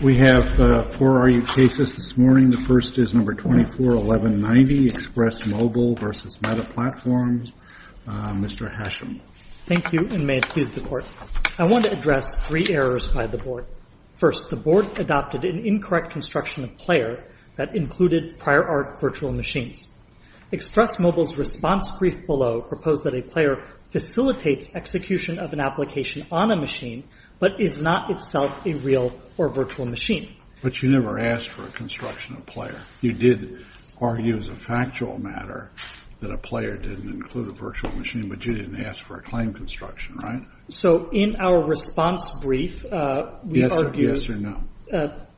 We have four RU cases this morning. The first is No. 24-1190, Express Mobile v. Meta Platforms. Mr. Hasham. Thank you, and may it please the Court. I want to address three errors by the Board. First, the Board adopted an incorrect construction of player that included prior art virtual machines. Express Mobile's response brief below proposed that a player facilitates execution of an application on a machine, but is not itself a real or virtual machine. But you never asked for a construction of player. You did argue as a factual matter that a player didn't include a virtual machine, but you didn't ask for a claim construction, right? So in our response brief, we argued- Yes or no?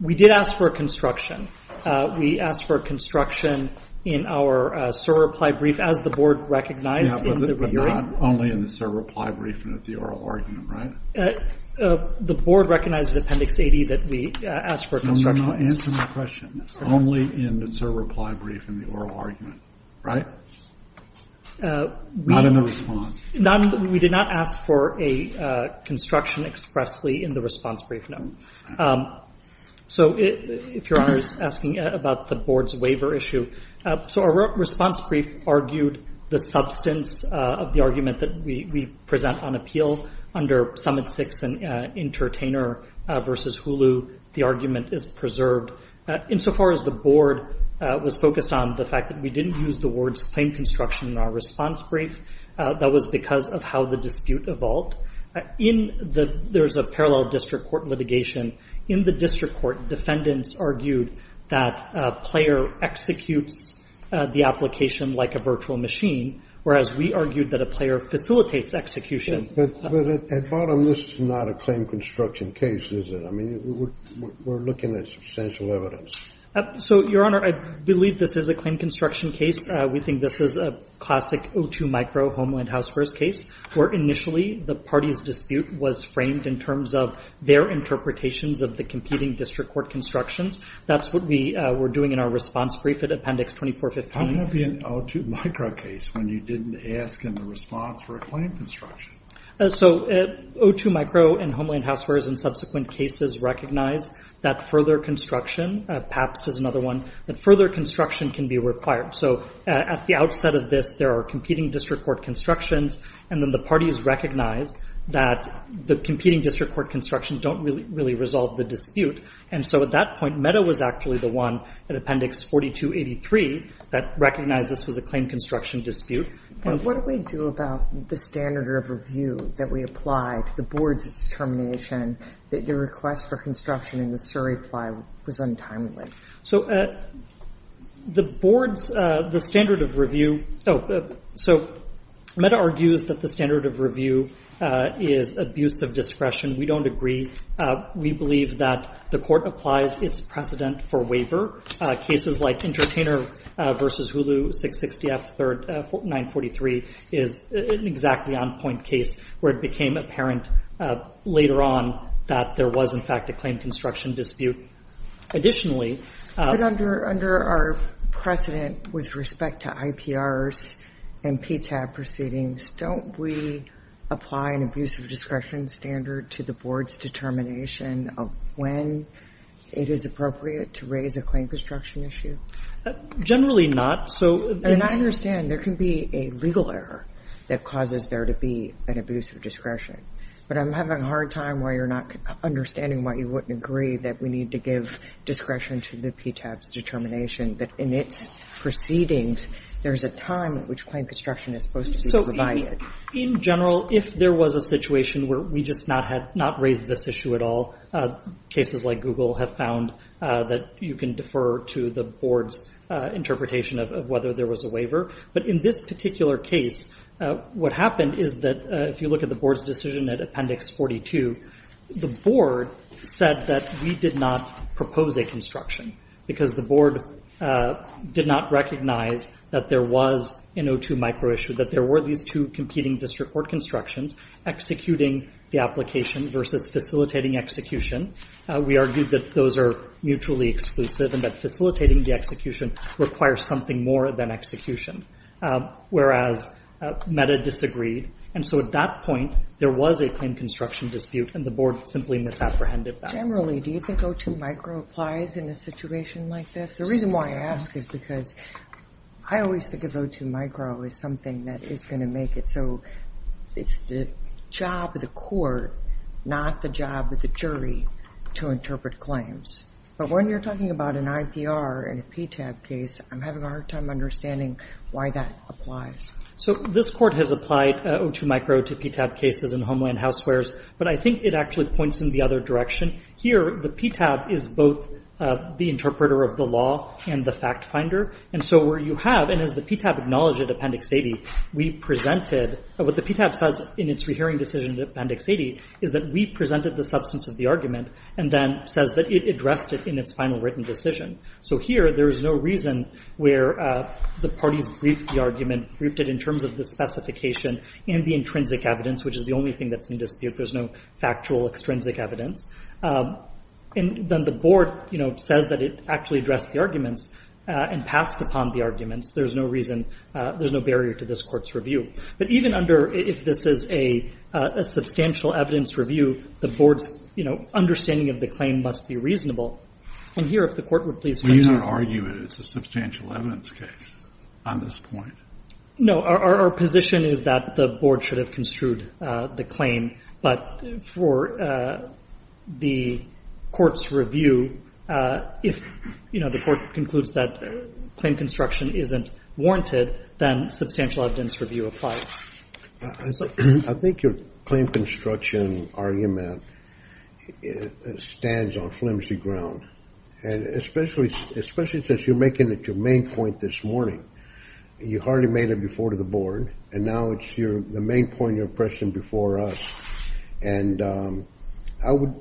We did ask for a construction. We asked for a construction in our server-applied brief as the Board recognized in the- Yeah, but you're not only in the server-applied brief and at the oral argument, right? The Board recognized in Appendix 80 that we asked for a construction. No, you're not answering my question. You're only in the server-applied brief and the oral argument, right? Not in the response. We did not ask for a construction expressly in the response brief, no. So if Your Honor is asking about the Board's waiver issue, so our response brief argued the substance of the argument that we present on appeal under Summit 6 and Entertainer versus Hulu, the argument is preserved. Insofar as the Board was focused on the fact that we didn't use the words claim construction in our response brief, that was because of how the dispute evolved. There's a parallel district court litigation. In the district court, defendants argued that a player executes the application like a virtual machine, whereas we argued that a player facilitates execution. But at bottom, this is not a claim construction case, is it? I mean, we're looking at substantial evidence. So Your Honor, I believe this is a claim construction case. We think this is a classic O2 micro homeland house first case where initially the party's dispute was framed in terms of their interpretations of the competing district court constructions. That's what we were doing in our response brief at Appendix 2415. How can that be an O2 micro case when you didn't ask in the response for a claim construction? So O2 micro and homeland house first and subsequent cases recognize that further construction, PAPS is another one, that further construction can be required. So at the outset of this, there are competing district court constructions, and then the parties recognize that the competing district court constructions don't really resolve the dispute. And so at that point, MEDA was actually the one at Appendix 4283 that recognized this was a claim construction dispute. But what do we do about the standard of review that we apply to the board's determination that your request for construction in the Surrey Ply was untimely? So the board's, the standard of review, so MEDA argues that the standard of review is abuse of discretion. We don't agree. We believe that the court applies its precedent for waiver. Cases like Entertainer v. Hulu, 660F, 943, is an exactly on-point case where it became apparent later on that there was, in fact, a claim construction dispute. Additionally But under our precedent with respect to IPRs and PTAB proceedings, don't we apply an abuse of discretion standard to the board's determination of when it is appropriate to raise a claim construction issue? Generally not. So And I understand there can be a legal error that causes there to be an abuse of discretion. But I'm having a hard time why you're not understanding why you wouldn't agree that we need to give discretion to the PTAB's determination that in its proceedings there's a time at which claim construction is supposed to be provided. In general, if there was a situation where we just had not raised this issue at all, cases like Google have found that you can defer to the board's interpretation of whether there was a waiver. But in this particular case, what happened is that if you look at the board's decision at Appendix 42, the board said that we did not propose a construction because the board did not recognize that there was an O2 microissue, that there were these two competing district court constructions, executing the application versus facilitating execution. We argued that those are mutually exclusive and that facilitating the execution requires something more than execution, whereas META disagreed. And so at that point, there was a claim construction dispute and the board simply misapprehended that. Generally, do you think O2 micro applies in a situation like this? The reason why I ask is because I always think of O2 micro as something that is going to make it so it's the job of the court, not the job of the jury, to interpret claims. But when you're talking about an IPR and a PTAB case, I'm having a hard time understanding why that applies. So this court has applied O2 micro to PTAB cases in Homeland Housewares, but I think it actually points in the other direction. Here, the PTAB is both the interpreter of the law and the fact finder. And so where you have, and as the PTAB acknowledged at Appendix 80, we presented, what the PTAB says in its rehearing decision at Appendix 80 is that we presented the substance of the argument and then says that it addressed it in its final written decision. So here, there is no reason where the parties briefed the argument, briefed it in terms of the specification and the intrinsic evidence, which is the only thing that's in dispute. There's no factual extrinsic evidence. And then the board says that it actually addressed the arguments and passed upon the arguments. There's no reason, there's no barrier to this court's review. But even under, if this is a substantial evidence review, the board's, you know, understanding of the claim must be reasonable. And here, if the court were to please- Well, you don't argue that it's a substantial evidence case on this point. No, our position is that the board should have construed the claim. But for the court's review, if, you know, the court concludes that claim construction isn't warranted, then substantial evidence review applies. I think your claim construction argument stands on flimsy ground. And especially since you're making it your main point this morning. You hardly made it before to the board, and now it's the main point of impression before us. And I would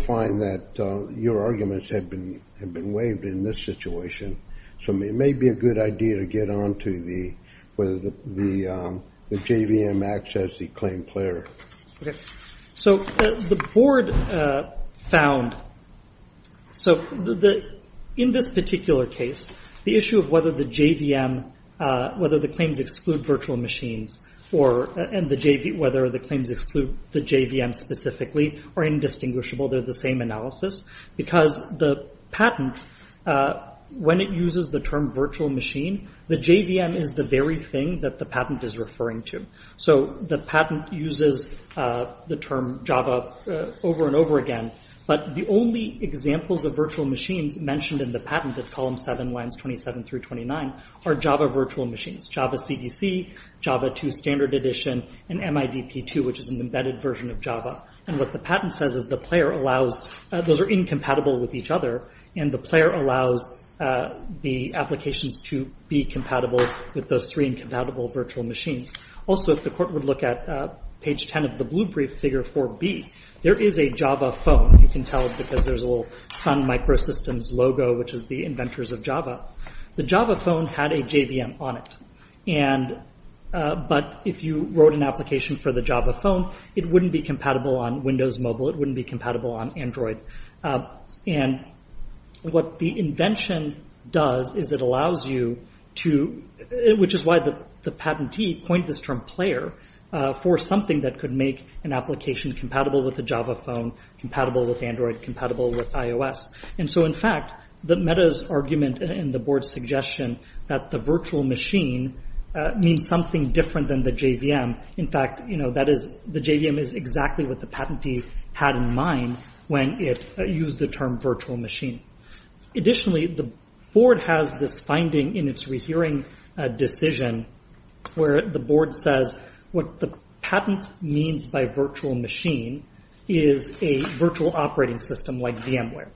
find that your arguments have been waived in this situation. So it may be a good idea to get on to whether the JVM acts as the claim player. So the board found, so in this particular case, the issue of whether the JVM, whether the claims exclude virtual machines, or whether the claims exclude the JVM specifically are indistinguishable. They're the same analysis. Because the patent, when it uses the term virtual machine, the JVM is the very thing that the patent is referring to. So the patent uses the term Java over and over again. But the only examples of virtual machines mentioned in the patent at column 7, lines 27 through 29, are Java virtual machines. Java CDC, Java 2 standard edition, and MIDP 2, which is an embedded version of Java. And what the patent says is the player allows, those are incompatible with each other, and the player allows the applications to be compatible with those three incompatible virtual machines. Also if the court would look at page 10 of the blue brief, figure 4B, there is a Java phone. You can tell because there's a little Sun Microsystems logo, which is the inventors of Java. The Java phone had a JVM on it. But if you wrote an application for the Java phone, it wouldn't be compatible on Windows Mobile, it wouldn't be compatible on Android. And what the invention does is it allows you to, which is why the patentee coined this term player, for something that could make an application compatible with a Java phone, compatible with Android, compatible with iOS. And so in fact, the meta's argument and the board's suggestion that the virtual machine means something different than the JVM, in fact, you know, that is, the JVM is exactly what the patentee had in mind when it used the term virtual machine. Additionally, the board has this finding in its rehearing decision where the board says what the patent means by virtual machine is a virtual operating system like VMware.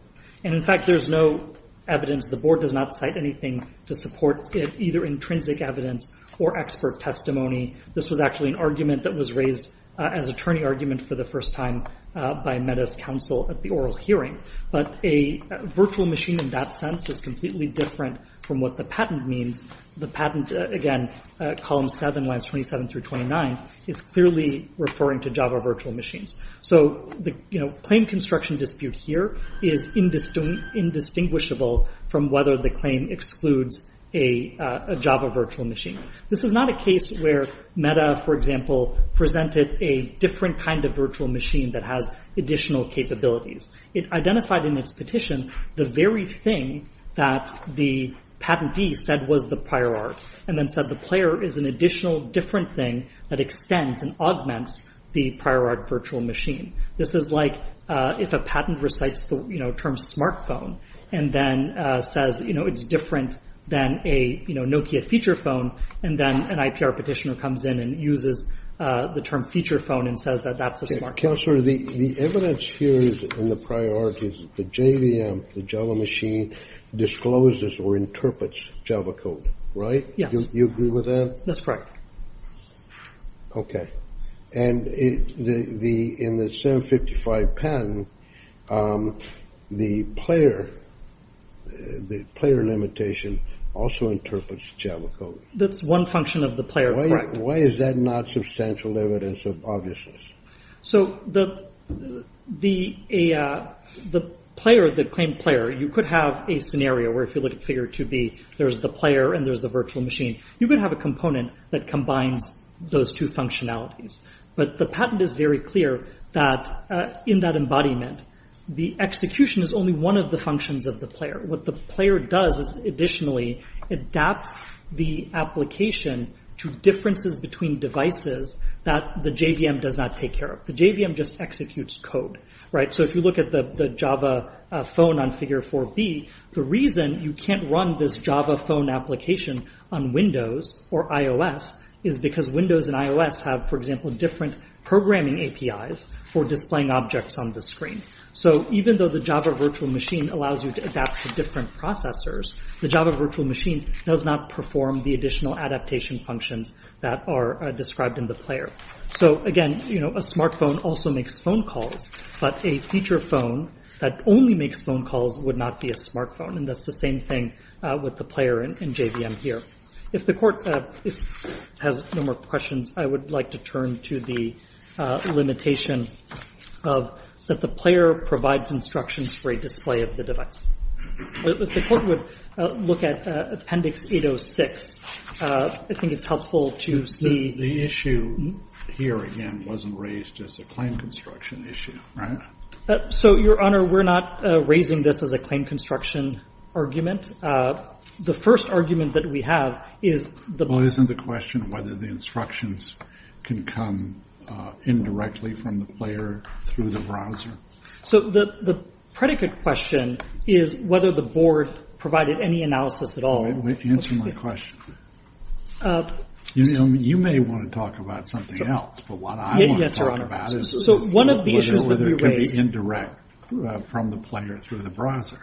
And in fact, there's no evidence, the board does not cite anything to support it, either intrinsic evidence or expert testimony. This was actually an argument that was raised as attorney argument for the first time by meta's counsel at the oral hearing. But a virtual machine in that sense is completely different from what the patent means. The patent, again, column 7 lines 27 through 29, is clearly referring to Java virtual machines. So the claim construction dispute here is indistinguishable from whether the claim excludes a Java virtual machine. This is not a case where meta, for example, presented a different kind of virtual machine that has additional capabilities. It identified in its petition the very thing that the patentee said was the prior art, and then said the player is an additional different thing that extends and augments the prior art virtual machine. This is like if a patent recites the term smartphone and then says, you know, it's different than a Nokia feature phone, and then an IPR petitioner comes in and uses the term feature phone and says that that's a smartphone. Counselor, the evidence here is in the prior art is the JVM, the Java machine, discloses or interprets Java code. Right? Yes. Do you agree with that? That's right. Okay. And in the 755 patent, the player, the player limitation also interprets Java code. That's one function of the player. Why is that not substantial evidence of obviousness? So the the the player, the claim player, you could have a scenario where if you look at figure to be there's the player and there's the virtual machine, you could have a component that combines those two functionalities. But the patent is very clear that in that embodiment, the execution is only one of the functions of the player. What the player does is additionally adapts the application to differences between devices that the JVM does not take care of. The JVM just executes code. Right. So if you look at the Java phone on figure for B, the reason you can't run this Java phone application on Windows or iOS is because Windows and iOS have, for example, different programming APIs for displaying objects on the screen. So even though the Java virtual machine allows you to adapt to different processors, the Java machine does not perform the additional adaptation functions that are described in the player. So again, you know, a smartphone also makes phone calls, but a feature phone that only makes phone calls would not be a smartphone. And that's the same thing with the player in JVM here. If the court has no more questions, I would like to turn to the limitation of that the player provides instructions for a display of the device. The court would look at Appendix 806. I think it's helpful to see... The issue here, again, wasn't raised as a claim construction issue, right? So, Your Honor, we're not raising this as a claim construction argument. The first argument that we have is... Well, isn't the question whether the instructions can come indirectly from the player through the browser? So the predicate question is whether the board provided any analysis at all. Wait, answer my question. You may want to talk about something else, but what I want to talk about is whether it can be indirect from the player through the browser.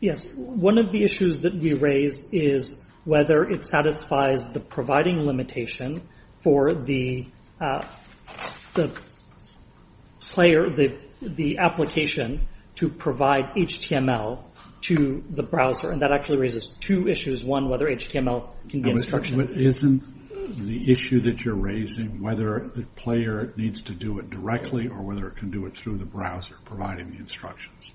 Yes. One of the issues that we raise is whether it satisfies the providing limitation for the player, the application, to provide HTML to the browser. And that actually raises two issues. One, whether HTML can be instruction. Isn't the issue that you're raising whether the player needs to do it directly or whether it can do it through the browser, providing the instructions?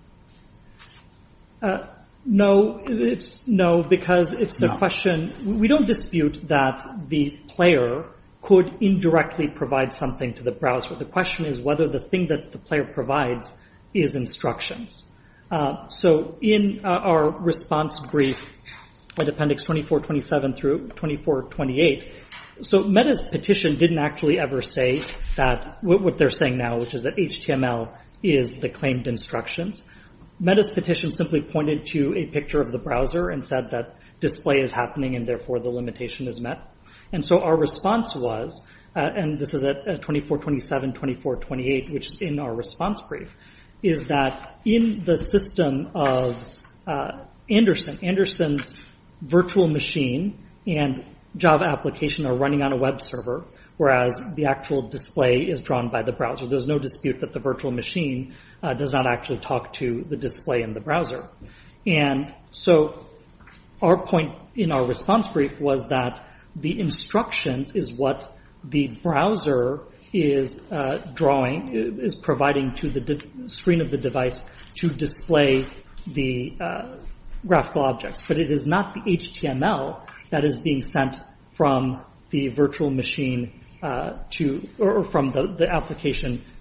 No, because it's the question... We don't dispute that the player could indirectly provide something to the browser. The question is whether the thing that the player provides is instructions. So in our response brief at Appendix 2427 through 2428, so Meta's petition didn't actually ever say that... What they're saying now, which is that HTML is the claimed instructions, Meta's petition simply pointed to a picture of the browser and said that display is happening and therefore the limitation is met. And so our response was, and this is at 2427, 2428, which is in our response brief, is that in the system of Anderson, Anderson's virtual machine and Java application are running on a web server, whereas the actual display is drawn by the browser. There's no dispute that the virtual machine does not actually talk to the display in the browser. And so our point in our response brief was that the instructions is what the browser is drawing, is providing to the screen of the device to display the graphical application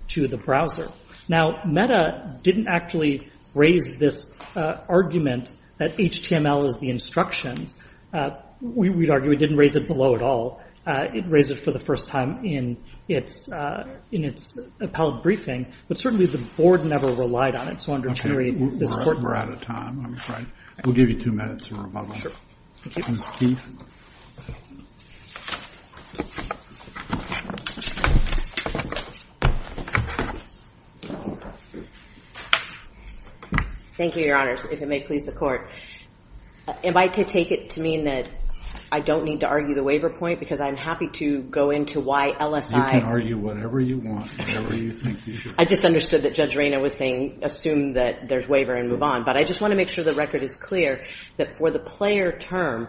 to the browser. Now, Meta didn't actually raise this argument that HTML is the instructions. We'd argue it didn't raise it below at all. It raised it for the first time in its appellate briefing, but certainly the board never relied on it. So I wanted to reiterate... We're out of time. We'll give you two minutes to rebuttal. Thank you, your honors, if it may please the court. Am I to take it to mean that I don't need to argue the waiver point because I'm happy to go into why LSI... You can argue whatever you want. I just understood that Judge Reyna was saying assume that there's waiver and move on. But I just want to make sure the record is clear that for the player term,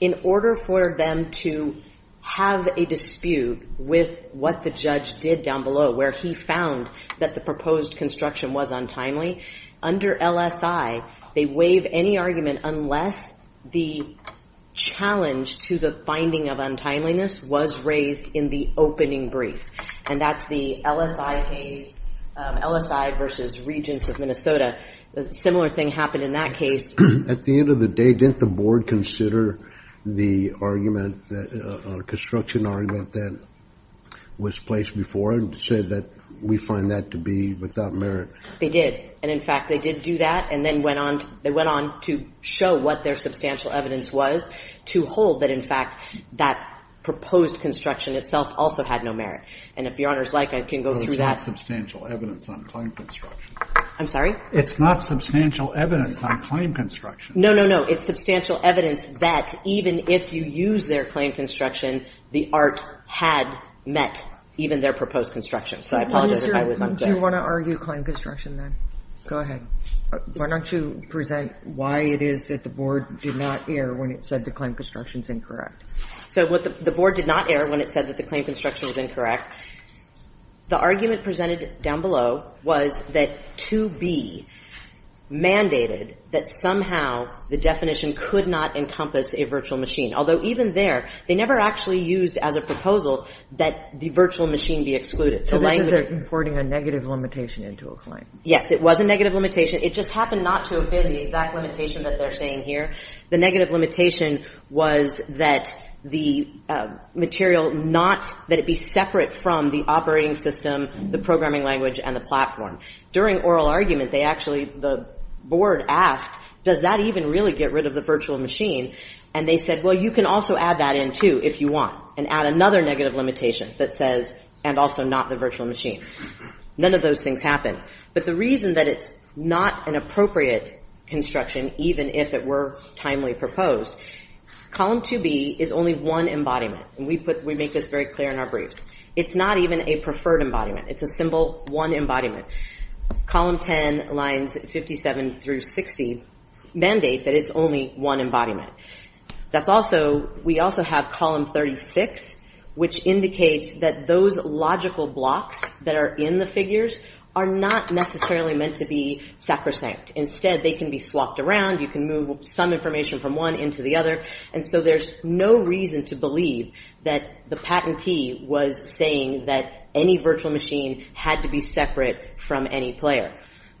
in order for them to have a dispute with what the judge did down below, where he found that the proposed construction was untimely, under LSI, they waive any argument unless the challenge to the finding of untimeliness was raised in the opening brief. And that's the LSI case, LSI versus Regents of Minnesota. A similar thing happened in that case. At the end of the day, didn't the board consider the construction argument that was placed before and say that we find that to be without merit? They did. And in fact, they did do that. And then they went on to show what their substantial evidence was to hold that, in fact, that proposed construction itself also had no merit. And if Your Honor's like, I can go through that. It's not substantial evidence on claim construction. I'm sorry? It's not substantial evidence on claim construction. No, no, no. It's substantial evidence that even if you use their claim construction, the art had met even their proposed construction. So I apologize if I was unclear. Do you want to argue claim construction then? Go ahead. Why don't you present why it is that the board did not err when it said the claim construction is incorrect? So the board did not err when it said that the claim construction was incorrect. The argument presented down below was that to be mandated that somehow the definition could not encompass a virtual machine. Although even there, they never actually used as a proposal that the virtual machine be excluded. So this is importing a negative limitation into a claim. Yes, it was a negative limitation. It just happened not to have been the exact limitation that they're saying here. The negative limitation was that the material not, that it be separate from the operating system, the programming language, and the platform. During oral argument, they actually, the board asked, does that even really get rid of the virtual machine? And they said, well, you can also add that in too if you want and add another negative limitation that says, and also not the virtual machine. None of those things happen. But the reason that it's not an appropriate construction, even if it were timely proposed, column 2B is only one embodiment. And we put, we make this very clear in our briefs. It's not even a preferred embodiment. It's a simple one embodiment. Column 10 lines 57 through 60 mandate that it's only one embodiment. That's also, we also have column 36, which indicates that those logical blocks that are in the figures are not necessarily meant to be sacrosanct. Instead, they can be swapped around. You can move some information from one into the other. And so there's no reason to believe that the patentee was saying that any virtual machine had to be separate from any player.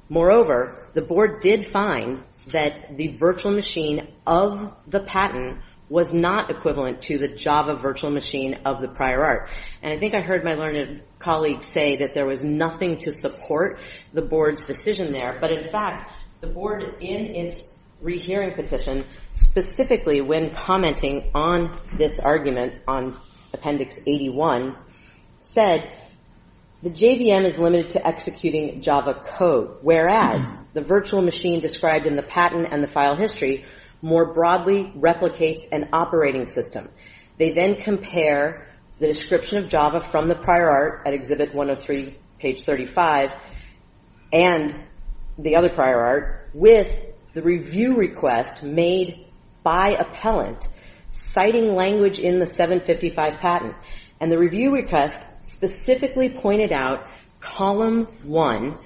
Moreover, the board did find that the virtual machine of the patent was not equivalent to the Java virtual machine of the prior art. And I think I heard my learned colleague say that there was nothing to support the board's decision there. But in fact, the board in its rehearing petition, specifically when commenting on this argument on appendix 81, said the JVM is limited to executing Java code, whereas the virtual machine described in the patent and the file history more broadly replicates an operating system. They then compare the description of Java from the prior art at exhibit 103, page 35, and the other prior art with the review request made by appellant citing language in the 755 patent. And the review request specifically pointed out column one,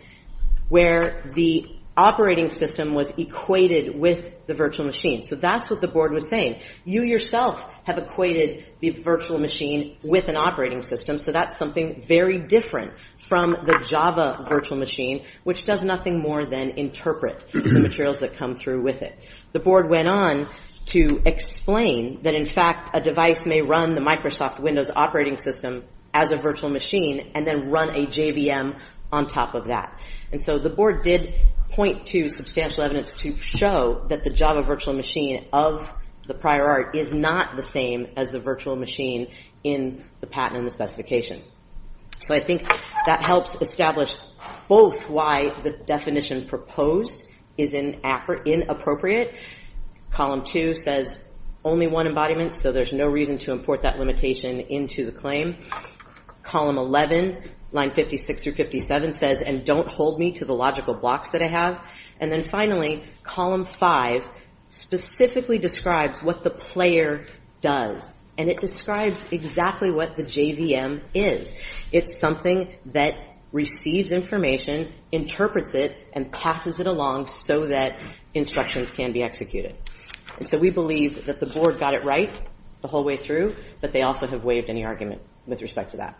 where the operating system was equated with the virtual machine. So that's what the board was saying. You yourself have equated the virtual machine with an operating system. So that's something very different from the Java virtual machine, which does nothing more than interpret the materials that come through with it. The board went on to explain that, in fact, a device may run the Microsoft Windows operating system as a virtual machine and then run a JVM on top of that. And so the board did point to substantial evidence to show that the Java virtual machine of the prior art is not the same as the virtual machine in the patent and specification. So I think that helps establish both why the definition proposed is inappropriate. Column two says, only one embodiment, so there's no reason to import that limitation into the claim. Column 11, line 56 through 57 says, and don't hold me to the logical blocks that I have. And then finally, column five specifically describes what the player does, and it describes exactly what the JVM is. It's something that receives information, interprets it, and passes it along so that instructions can be executed. And so we believe that the board got it right the whole way through, but they also have waived any argument with respect to that.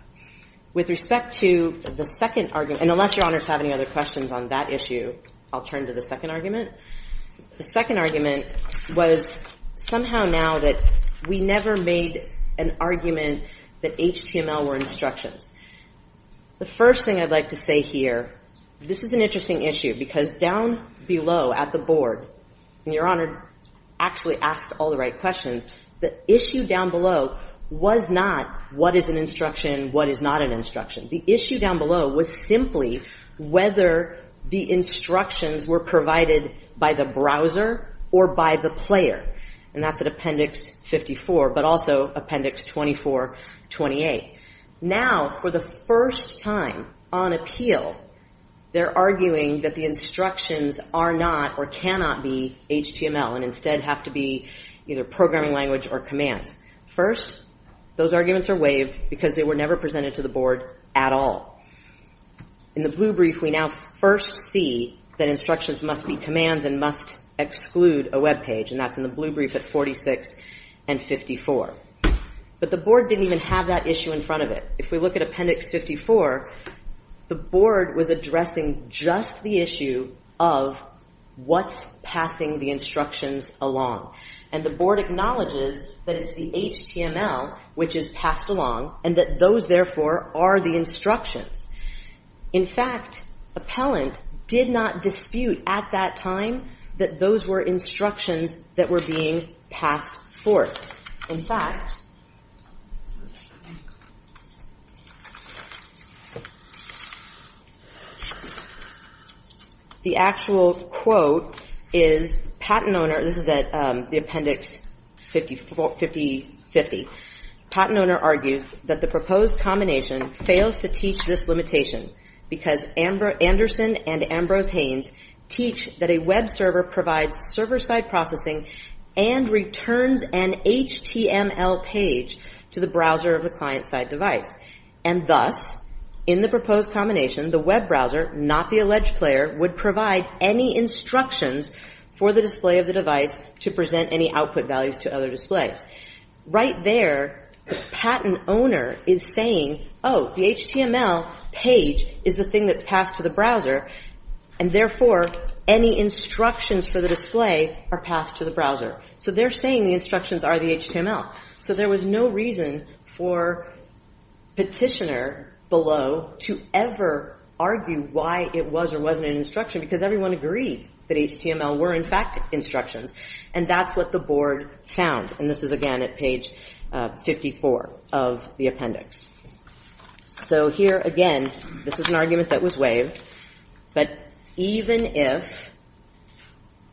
With respect to the second argument, and unless your honors have any other questions on that issue, I'll turn to the second argument. The second argument was somehow now that we never made an argument that HTML were instructions. The first thing I'd like to say here, this is an interesting issue because down below at the board, and your honor actually asked all the right questions, the issue down below was not what is an instruction, what is not an instruction. The issue down below was simply whether the instructions were provided by the browser or by the player, and that's at appendix 54, but also appendix 24, 28. Now for the first time on appeal, they're arguing that the instructions are not or cannot be HTML and instead have to be either programming language or commands. First, those arguments are waived because they were never presented to the board at all. In the blue brief, we now first see that instructions must be commands and must exclude a web page, and that's in the blue brief at 46 and 54. But the board didn't even have that issue in front of it. If we look at appendix 54, the board was addressing just the issue of what's passing the instructions along, and the board acknowledges that it's the HTML which is passed along and that those therefore are the instructions. In fact, appellant did not dispute at that time that those were instructions that were being passed forth. In fact, the actual quote is, patent owner, this is at the appendix 54, 50, 50, patent owner argues that the fails to teach this limitation because Anderson and Ambrose Haynes teach that a web server provides server-side processing and returns an HTML page to the browser of the client-side device. And thus, in the proposed combination, the web browser, not the alleged player, would provide any instructions for the display of the device to present any output values to other displays. Right there, the patent owner is saying, oh, the HTML page is the thing that's passed to the browser, and therefore any instructions for the display are passed to the browser. So they're saying the instructions are the HTML. So there was no reason for petitioner below to ever argue why it was or wasn't an instruction because everyone agreed that HTML were in fact instructions, and that's what the board found. And this is, again, at page 54 of the appendix. So here, again, this is an argument that was waived, but even if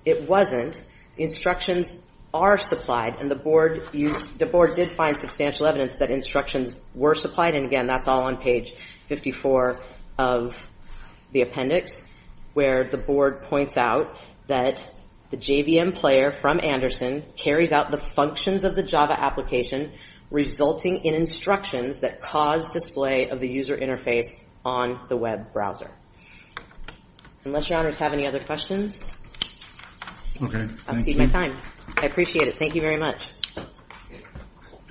it wasn't, instructions are supplied, and the board did find substantial evidence that instructions were supplied, and again, that's all on page 54 of the appendix, where the board points out that the JVM player from Anderson carries out the functions of the Java application, resulting in instructions that cause display of the user interface on the web browser. Unless your honors have any other questions, I've exceeded my time. I appreciate it. Thank you very much. Yes,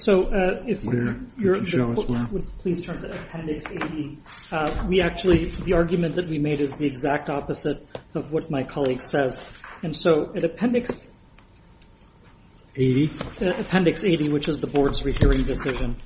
so if you would please turn to appendix 80. We actually, the argument that we made is the exact opposite of what my colleague says, and so at appendix 80, which is the board's final written decision.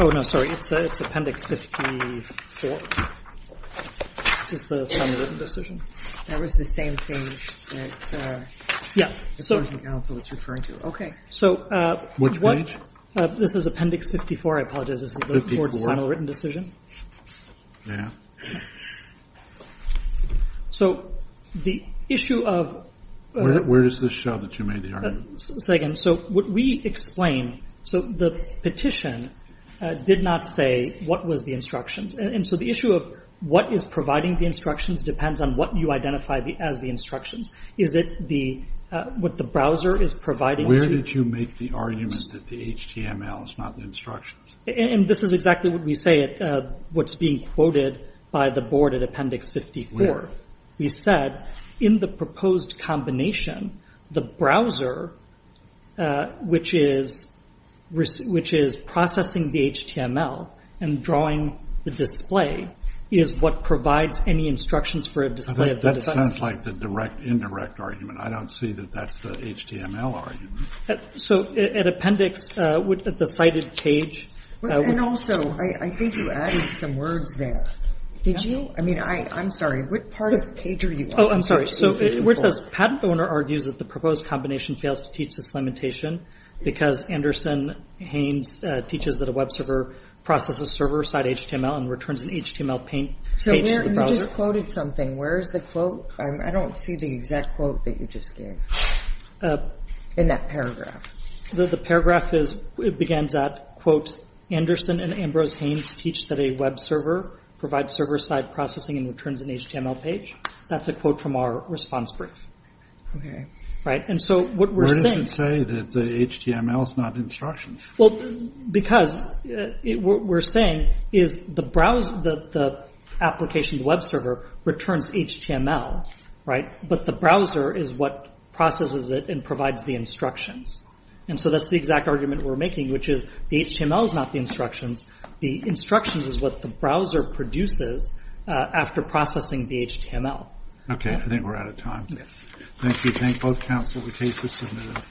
Oh, no, sorry. It's appendix 54. This is the board's final written decision. That was the same page that the Jersey Council was referring to. Okay. Which page? This is appendix 54. I apologize. This is the board's final written decision. Yeah. So the issue of- Where is this show that you made the argument? Say again. So what we explain, so the petition did not say what was the instructions, and so the issue of what is providing the instructions depends on what you identify as the instructions. Is it what the browser is providing to- Where did you make the argument that the HTML is not the instructions? And this is exactly what we say, what's being quoted by the board at appendix 54. We said, in the proposed combination, the browser, which is processing the HTML and drawing the display, is what provides any instructions for a display of the- That sounds like the indirect argument. I don't see that that's the HTML argument. So at appendix, at the cited page- And also, I think you added some words there. Did you? I mean, I'm sorry. What part of the page are you on? Oh, I'm sorry. So where it says, patent owner argues that the proposed combination fails to teach this limitation because Anderson Haynes teaches that a web server processes server-side HTML and returns an HTML page to the browser- So you just quoted something. Where is the quote? I don't see the exact quote that you just gave in that paragraph. The paragraph is, it begins at, quote, Anderson and Ambrose Haynes teach that a web server provides server-side processing and returns an HTML page. That's a quote from our response brief. Okay. Right? And so what we're saying- Where does it say that the HTML is not instructions? Well, because what we're saying is the browser, the application, the web server, returns HTML, right? But the browser is what processes it and provides the instructions. And so that's the exact argument we're making, which is the HTML is not the instructions. The instructions is what the browser produces after processing the HTML. Okay. I think we're out of time. Thank you. Thank both counsel. The case is submitted.